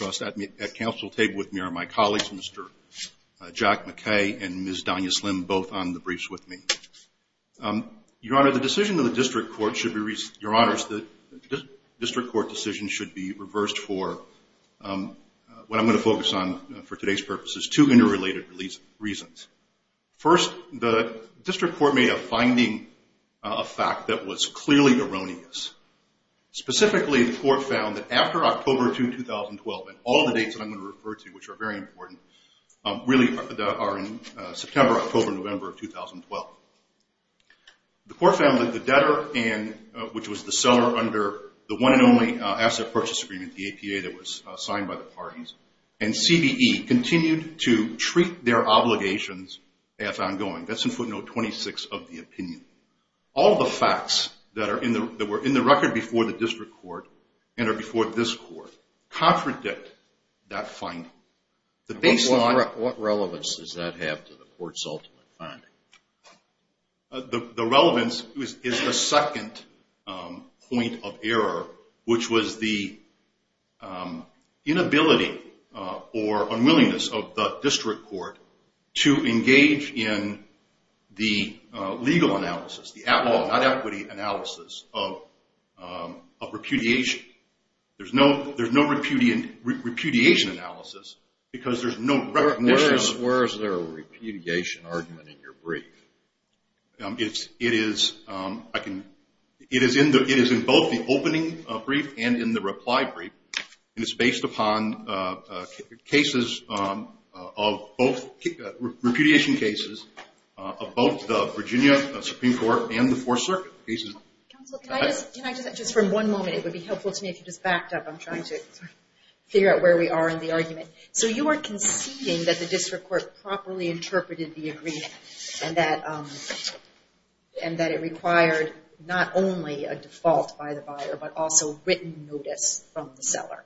at council table with me are my colleagues, Mr. Jack McKay and Ms. Donya Slim, both on the briefs with me. Your Honor, the decision of the District Court should be reversed for what I'm going to focus on for today's purposes. Two interrelated reasons. First, the District Court may have finding a fact that was clearly erroneous. Specifically, the Court found that after October 2, 2012, and all the dates that I'm going to refer to, which are very important, really are in September, October, November of 2012. The Court found that the debtor, which was the seller under the one and only asset purchase agreement, the APA that was signed by the parties, and CBE continued to treat their obligations as ongoing. That's in footnote 26 of the opinion. All the facts that were in the record before the District Court and are before this Court contradict that finding. What relevance does that have to the Court's ultimate finding? The relevance is the second point of error, which was the inability or unwillingness of the District Court to engage in the legal analysis, the at-law, not equity, analysis of repudiation. There's no repudiation analysis because there's no recognition... Where is there a repudiation argument in your brief? It is in both the opening brief and in the reply brief, and it's based upon cases of both repudiation cases of both the Virginia Supreme Court and the Fourth Circuit cases. Counsel, can I just, from one moment, it would be helpful to me if you just backed up. I'm trying to figure out where we are in the argument. So you are conceding that the District Court properly interpreted the agreement and that it required not only a default by the buyer, but also written notice from the seller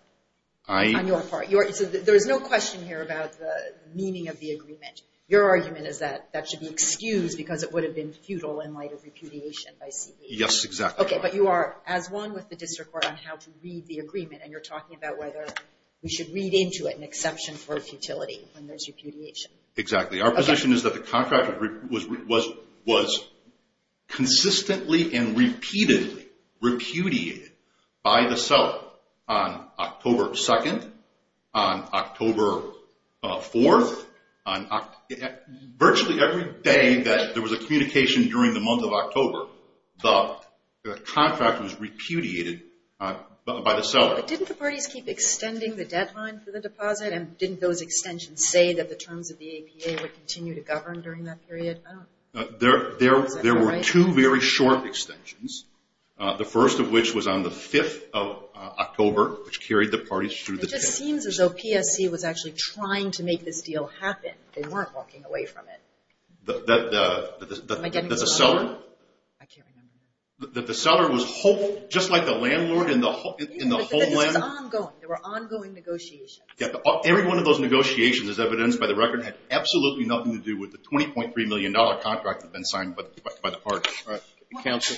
on your part. There's no question here about the meaning of the agreement. Your argument is that that should be excused because it would have been futile in light of repudiation by CBE. Yes, exactly. Okay, but you are as one with the District Court on how to read the agreement, and you're talking about whether we should read into it an exception for futility when there's repudiation. Exactly. Our position is that the contract was consistently and repeatedly repudiated by the seller on October 2nd, on October 4th. Virtually every day that there was a communication during the month of October, the contract was repudiated by the seller. But didn't the parties keep extending the deadline for the deposit, and didn't those extensions say that the terms of the APA would continue to govern during that period? There were two very short extensions, the first of which was on the 5th of October, which carried the parties through this period. It just seems as though PSC was actually trying to make this deal happen. They weren't walking away from it. The seller? I can't remember. That the seller was just like the landlord in the whole land? This was ongoing. There were ongoing negotiations. Every one of those negotiations, as evidenced by the record, had absolutely nothing to do with the $20.3 million contract that had been signed by the parties. Counsel?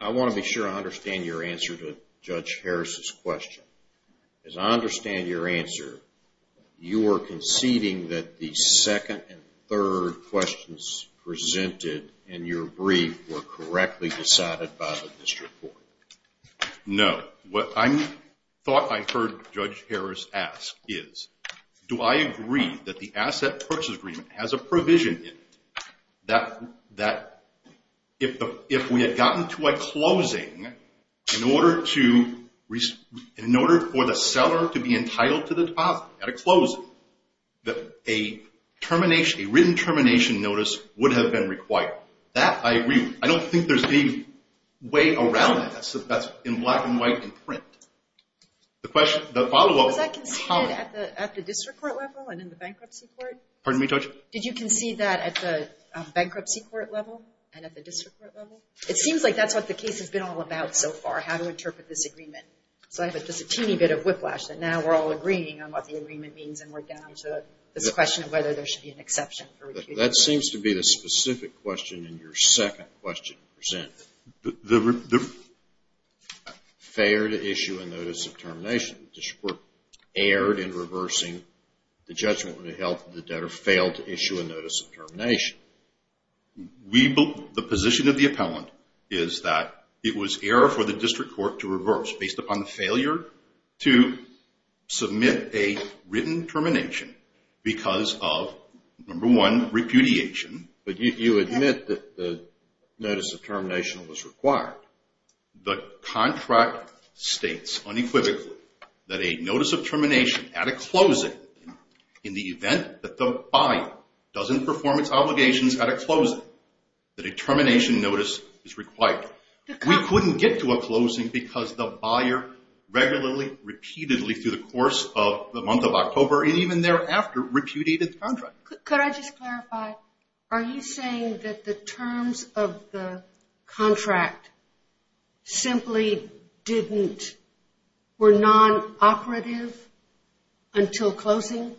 I want to be sure I understand your answer to Judge Harris's question. As I understand your answer, you are conceding that the second and third questions presented in your brief were correctly decided by the district court. No. What I thought I heard Judge Harris ask is, do I agree that the asset purchase agreement has a provision in it that if we had gotten to a closing, in order for the seller to be entitled to the deposit at a closing, that a written termination notice would have been required? That I agree with. I don't think there's any way around that. That's in black and white in print. Was that conceded at the district court level and in the bankruptcy court? Pardon me, Judge? Did you concede that at the bankruptcy court level and at the district court level? It seems like that's what the case has been all about so far, how to interpret this agreement. So I have just a teeny bit of whiplash that now we're all agreeing on what the agreement means and we're down to this question of whether there should be an exception. That seems to be the specific question in your second question presented. The failure to issue a notice of termination. The district court erred in reversing the judgment when it held that the debtor failed to issue a notice of termination. The position of the appellant is that it was error for the district court to reverse, based upon the failure to submit a written termination because of, number one, repudiation. But you admit that the notice of termination was required. The contract states unequivocally that a notice of termination at a closing, in the event that the buyer doesn't perform its obligations at a closing, that a termination notice is required. We couldn't get to a closing because the buyer regularly, repeatedly, through the course of the month of October and even thereafter repudiated the contract. Could I just clarify? Are you saying that the terms of the contract simply didn't, were non-operative until closing?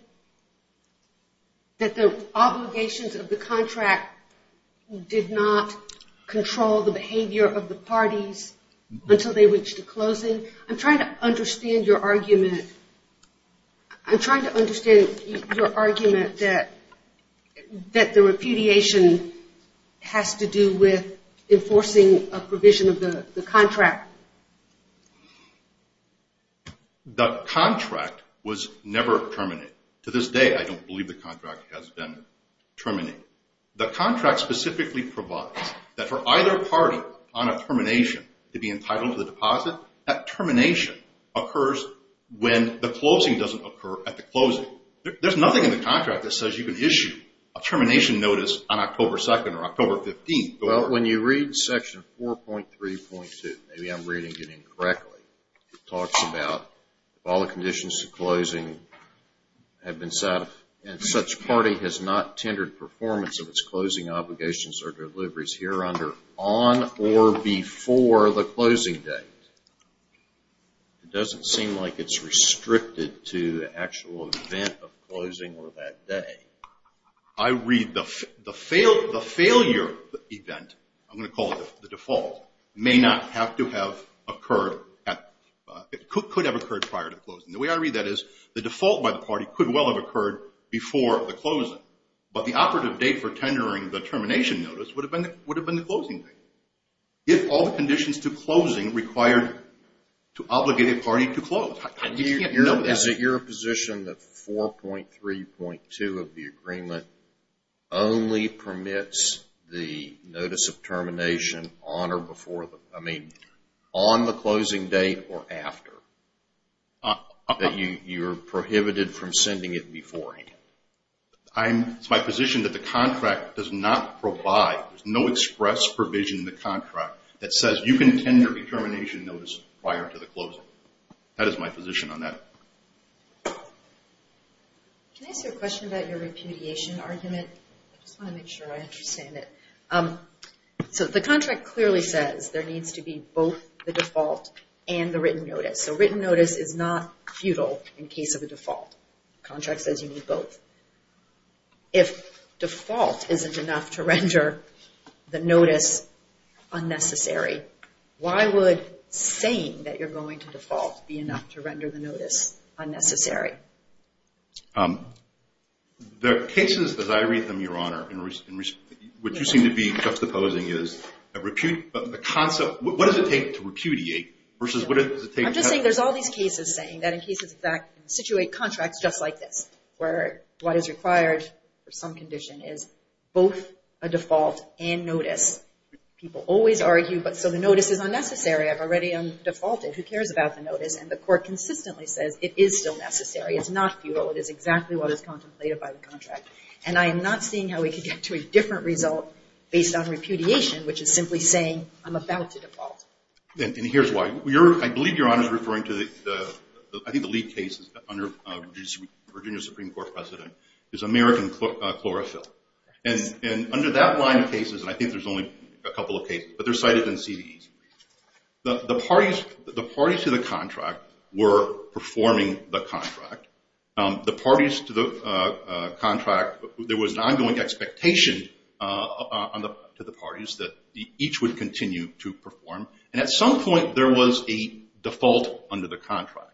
That the obligations of the contract did not control the behavior of the parties until they reached a closing? I'm trying to understand your argument. I'm trying to understand your argument that the repudiation has to do with enforcing a provision of the contract. The contract was never terminated. To this day, I don't believe the contract has been terminated. The contract specifically provides that for either party on a termination to be entitled to the deposit, that termination occurs when the closing doesn't occur at the closing. There's nothing in the contract that says you can issue a termination notice on October 2nd or October 15th. Well, when you read section 4.3.2, maybe I'm reading it incorrectly, it talks about if all the conditions to closing have been set and such party has not tendered performance of its closing obligations or deliveries here under on or before the closing date. It doesn't seem like it's restricted to the actual event of closing or that day. I read the failure event, I'm going to call it the default, may not have to have occurred. It could have occurred prior to closing. The way I read that is the default by the party could well have occurred before the closing, but the operative date for tendering the termination notice would have been the closing date. If all the conditions to closing required to obligate a party to close. Is it your position that 4.3.2 of the agreement only permits the notice of termination on or before, I mean on the closing date or after, that you're prohibited from sending it beforehand? It's my position that the contract does not provide, there's no express provision in the contract that says you can tender a termination notice prior to the closing. So that is my position on that. Can I ask you a question about your repudiation argument? I just want to make sure I understand it. So the contract clearly says there needs to be both the default and the written notice. So written notice is not futile in case of a default. Contract says you need both. If default isn't enough to render the notice unnecessary, why would saying that you're going to default be enough to render the notice unnecessary? There are cases, as I read them, Your Honor, which you seem to be juxtaposing as a concept, what does it take to repudiate versus what does it take to tender? I'm just saying there's all these cases saying that in cases of fact, situate contracts just like this, where what is required for some condition is both a default and notice. People always argue, so the notice is unnecessary. I've already defaulted. Who cares about the notice? And the court consistently says it is still necessary. It's not futile. It is exactly what is contemplated by the contract. And I am not seeing how we could get to a different result based on repudiation, which is simply saying I'm about to default. And here's why. I believe Your Honor is referring to, I think the lead case under Virginia Supreme Court precedent, is American chlorophyll. And under that line of cases, and I think there's only a couple of cases, but they're cited in CVEs, the parties to the contract were performing the contract. The parties to the contract, there was an ongoing expectation to the parties that each would continue to perform. And at some point there was a default under the contract.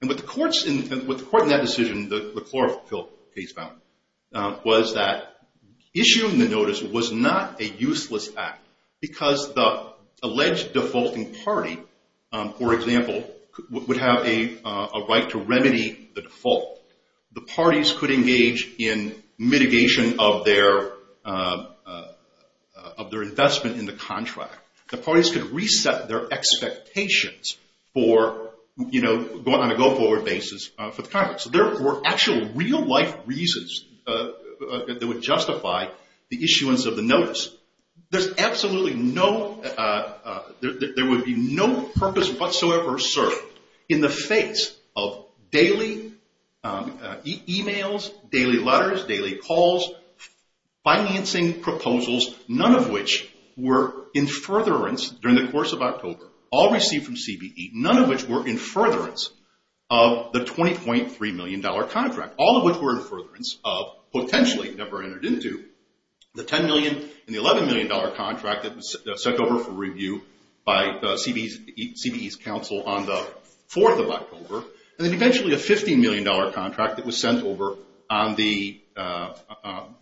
And what the court in that decision, the chlorophyll case found, was that issuing the notice was not a useless act because the alleged defaulting party, for example, would have a right to remedy the default. The parties could engage in mitigation of their investment in the contract. The parties could reset their expectations on a go-forward basis for the contract. So there were actual real-life reasons that would justify the issuance of the notice. There's absolutely no, there would be no purpose whatsoever served in the face of daily e-mails, daily letters, daily calls, financing proposals, none of which were in furtherance during the course of October, all received from CVE, none of which were in furtherance of the $20.3 million contract, all of which were in furtherance of potentially never entered into the $10 million and the $11 million contract that was sent over for review by CVE's counsel on the 4th of October, and then eventually a $15 million contract that was sent over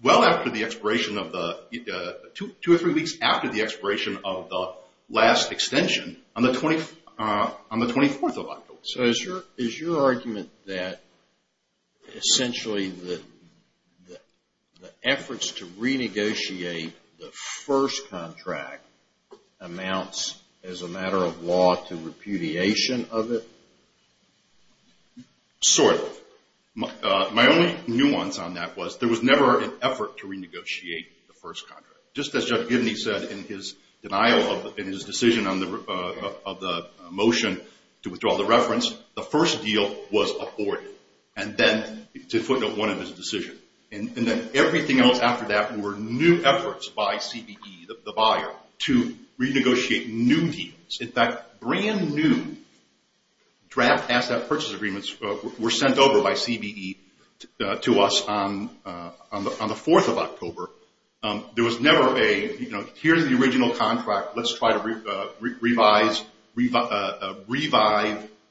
well after the expiration of the, two or three weeks after the expiration of the last extension on the 24th of October. So is your argument that essentially the efforts to renegotiate the first contract amounts as a matter of law to repudiation of it? Sort of. My only nuance on that was there was never an effort to renegotiate the first contract. Just as Judge Gibney said in his denial of, in his decision on the motion to withdraw the reference, the first deal was aborted, and then, to footnote one of his decision, and then everything else after that were new efforts by CVE, the buyer, to renegotiate new deals. In fact, brand new draft asset purchase agreements were sent over by CVE to us on the 4th of October. There was never a, you know, here's the original contract. Let's try to revise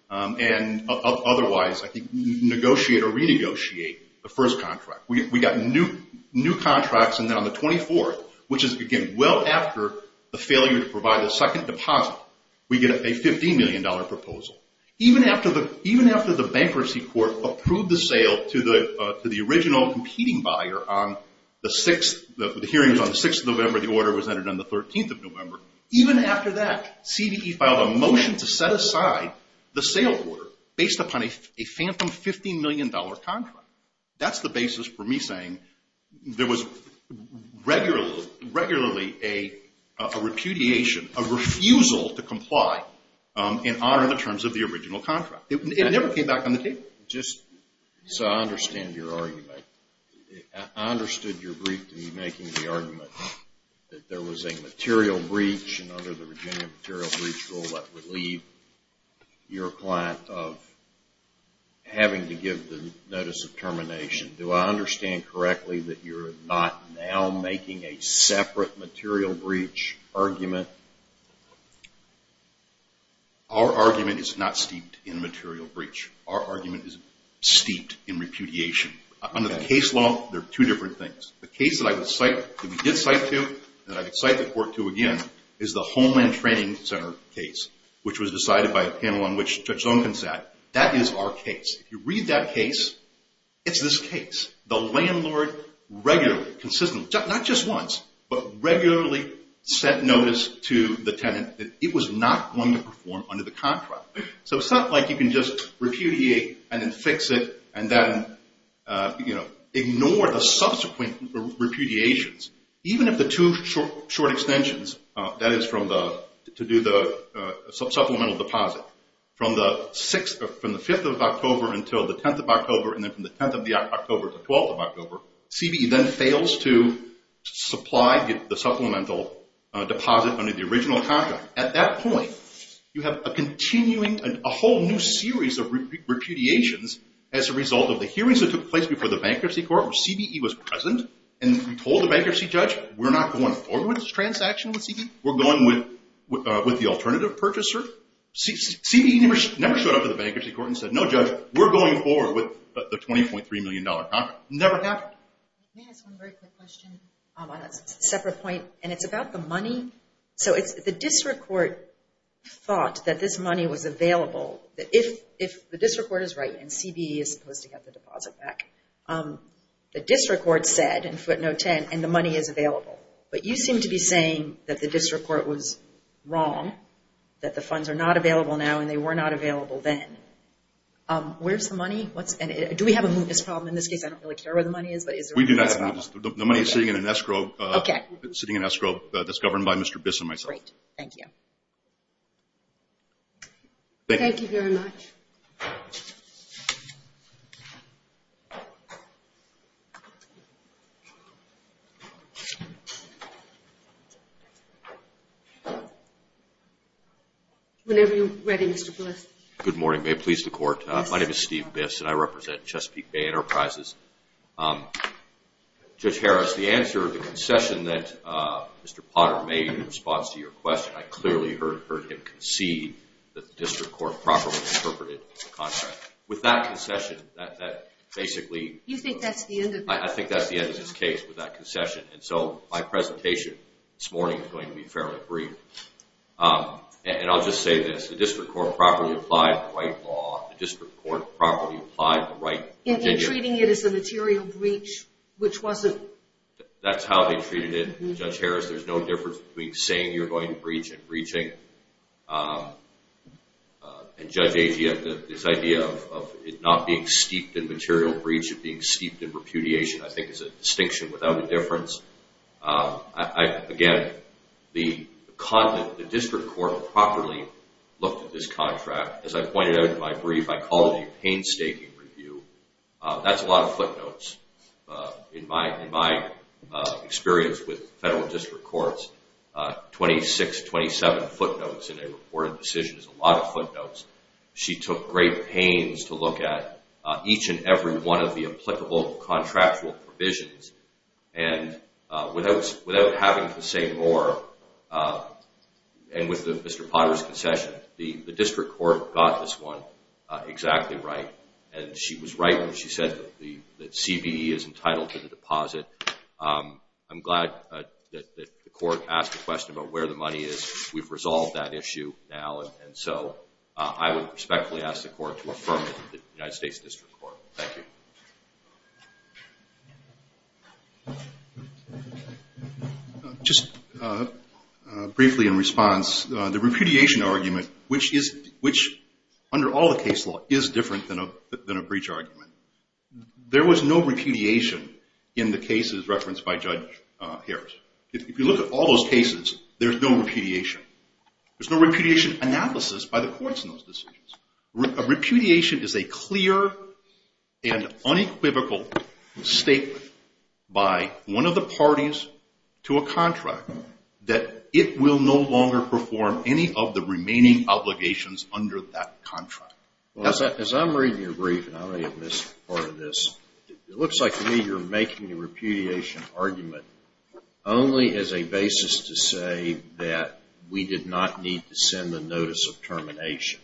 and otherwise, I think, negotiate or renegotiate the first contract. We got new contracts, and then on the 24th, which is, again, well after the failure to provide the second deposit, we get a $15 million proposal. Even after the bankruptcy court approved the sale to the original competing buyer on the 6th, the hearings on the 6th of November, the order was entered on the 13th of November. Even after that, CVE filed a motion to set aside the sale order based upon a phantom $15 million contract. That's the basis for me saying there was regularly a repudiation, a refusal to comply in honor of the terms of the original contract. It never came back on the table. Just so I understand your argument, I understood your brief to be making the argument that there was a material breach, and under the Virginia material breach rule, that would leave your client of having to give the notice of termination. Do I understand correctly that you're not now making a separate material breach argument? Our argument is not steeped in material breach. Our argument is steeped in repudiation. Under the case law, there are two different things. The case that I would cite, that we did cite to, that I would cite the court to again, is the Homeland Training Center case, which was decided by a panel on which Judge Duncan sat. That is our case. If you read that case, it's this case. The landlord regularly, consistently, not just once, but regularly sent notice to the tenant that it was not going to perform under the contract. It's not like you can just repudiate and then fix it, and then ignore the subsequent repudiations. Even if the two short extensions, that is to do the supplemental deposit, from the 5th of October until the 10th of October, and then from the 10th of October to 12th of October, CBE then fails to supply the supplemental deposit under the original contract. At that point, you have a continuing, a whole new series of repudiations as a result of the hearings that took place before the Bankruptcy Court, where CBE was present, and we told the Bankruptcy Judge, we're not going forward with this transaction with CBE. We're going with the alternative purchaser. CBE never showed up at the Bankruptcy Court and said, no Judge, we're going forward with the $20.3 million contract. It never happened. Can I ask one very quick question on a separate point? It's about the money. The District Court thought that this money was available, that if the District Court is right and CBE is supposed to get the deposit back, the District Court said in footnote 10, and the money is available, but you seem to be saying that the District Court was wrong, that the funds are not available now and they were not available then. Where's the money? Do we have a mootness problem in this case? I don't really care where the money is, but is there a mootness problem? We do not have a mootness problem. The money is sitting in an escrow that's governed by Mr. Biss and myself. Great. Thank you. Thank you very much. Whenever you're ready, Mr. Biss. Good morning. May it please the Court. My name is Steve Biss, and I represent Chesapeake Bay Enterprises. Judge Harris, the answer to the concession that Mr. Potter made in response to your question, I clearly heard him concede that the District Court properly interpreted the contract. With that concession, that basically – You think that's the end of – I think that's the end of this case with that concession, and so my presentation this morning is going to be fairly brief. And I'll just say this. The District Court properly applied the right law. The District Court properly applied the right – In treating it as a material breach, which wasn't – That's how they treated it. Judge Harris, there's no difference between saying you're going to breach and breaching. And Judge Agee, this idea of it not being steeped in material breach, it being steeped in repudiation, I think is a distinction without a difference. Again, the District Court properly looked at this contract. As I pointed out in my brief, I call it a painstaking review. That's a lot of footnotes. In my experience with federal district courts, 26, 27 footnotes in a reported decision is a lot of footnotes. She took great pains to look at each and every one of the applicable contractual provisions and without having to say more, and with Mr. Potter's concession, the District Court got this one exactly right. And she was right when she said that CBE is entitled to the deposit. I'm glad that the court asked the question about where the money is. We've resolved that issue now, and so I would respectfully ask the court to affirm it to the United States District Court. Thank you. Just briefly in response, the repudiation argument, which under all the case law is different than a breach argument, there was no repudiation in the cases referenced by Judge Harris. If you look at all those cases, there's no repudiation. There's no repudiation analysis by the courts in those decisions. A repudiation is a clear and unequivocal statement by one of the parties to a contract that it will no longer perform any of the remaining obligations under that contract. As I'm reading your brief, and I may have missed part of this, it looks like to me you're making a repudiation argument only as a basis to say that we did not need to send the notice of termination.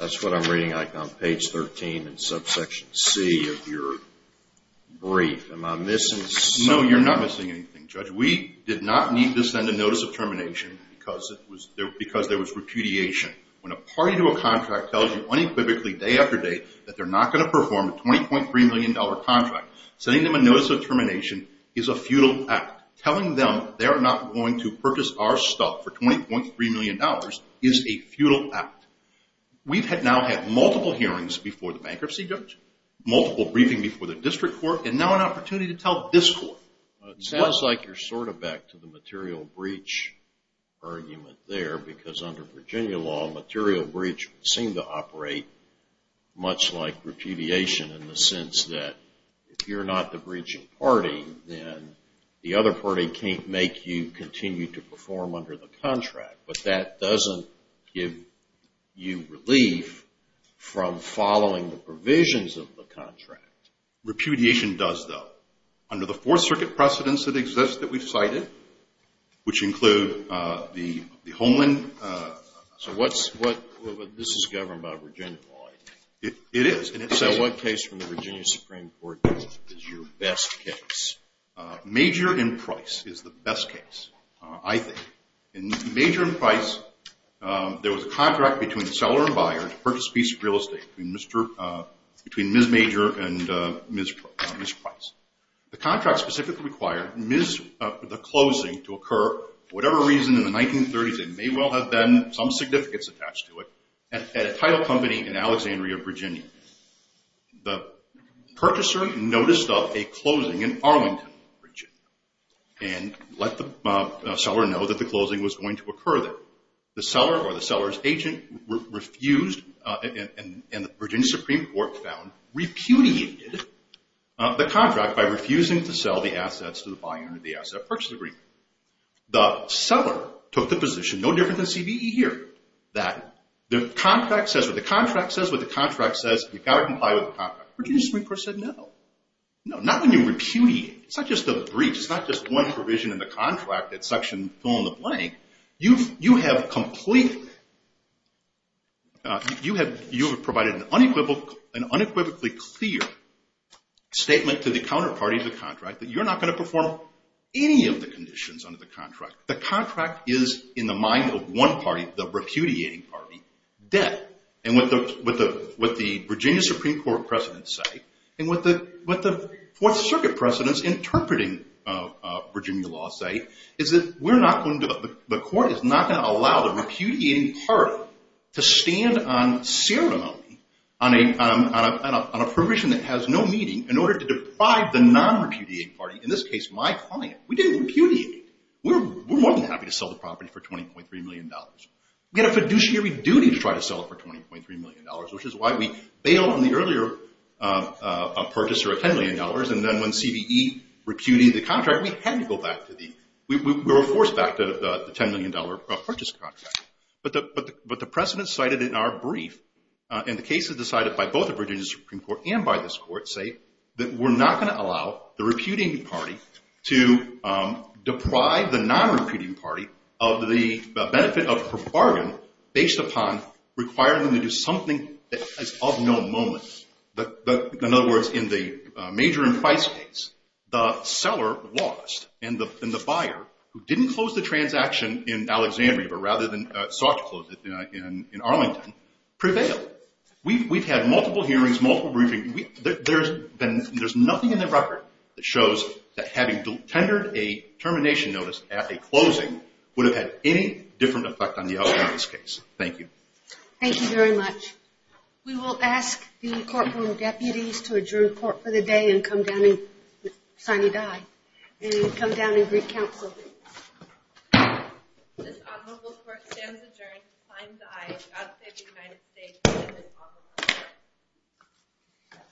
That's what I'm reading on page 13 in subsection C of your brief. Am I missing something? No, you're not missing anything, Judge. We did not need to send a notice of termination because there was repudiation. When a party to a contract tells you unequivocally day after day that they're not going to perform a $20.3 million contract, sending them a notice of termination is a futile act. Telling them they're not going to purchase our stuff for $20.3 million is a futile act. We've now had multiple hearings before the bankruptcy judge, multiple briefings before the district court, and now an opportunity to tell this court. It sounds like you're sort of back to the material breach argument there because under Virginia law, material breach would seem to operate much like repudiation in the sense that if you're not the breaching party, then the other party can't make you continue to perform under the contract, but that doesn't give you relief from following the provisions of the contract. Repudiation does, though. Under the Fourth Circuit precedents that exist that we've cited, which include the Holman contract. So this is governed by Virginia law. It is. So what case from the Virginia Supreme Court is your best case? Major and Price is the best case, I think. In Major and Price, there was a contract between the seller and buyer to purchase a piece of real estate between Ms. Major and Ms. Price. The contract specifically required the closing to occur for whatever reason in the 1930s, and there may well have been some significance attached to it, at a title company in Alexandria, Virginia. The purchaser noticed a closing in Arlington, Virginia, and let the seller know that the closing was going to occur there. The seller or the seller's agent refused, and the Virginia Supreme Court found repudiated the contract by refusing to sell the assets to the buyer under the asset purchase agreement. The seller took the position, no different than CBE here, that the contract says what the contract says what the contract says, you've got to comply with the contract. Virginia Supreme Court said no. No, not when you repudiate. It's not just a breach. It's not just one provision in the contract that section fill-in-the-blank. You've provided an unequivocally clear statement to the counterparty of the contract that you're not going to perform any of the conditions under the contract. The contract is, in the mind of one party, the repudiating party, dead. And what the Virginia Supreme Court precedents say, and what the Fourth Circuit precedents interpreting Virginia law say, is that the court is not going to allow the repudiating party to stand on ceremony, on a provision that has no meaning, in order to deprive the non-repudiating party, in this case my client, we didn't repudiate it. We're more than happy to sell the property for $20.3 million. We have a fiduciary duty to try to sell it for $20.3 million, which is why we bail on the earlier purchase or $10 million, and then when CBE repudiated the contract, we had to go back to the, we were forced back to the $10 million purchase contract. But the precedents cited in our brief, and the cases decided by both the Virginia Supreme Court and by this court, say that we're not going to allow the repudiating party to deprive the non-repudiating party of the benefit of a bargain based upon requiring them to do something that is of no moment. In other words, in the major and price case, the seller lost, and the buyer, who didn't close the transaction in Alexandria, but rather than sought to close it in Arlington, prevailed. We've had multiple hearings, multiple briefings. There's nothing in the record that shows that having tendered a termination notice at a closing would have had any different effect on the outcome of this case. Thank you. Thank you very much. We will ask the courtroom deputies to adjourn court for the day and come down and sign a die. And come down and greet counsel. This honorable court stands adjourned. Signs the aye. God save the United States and this honorable court.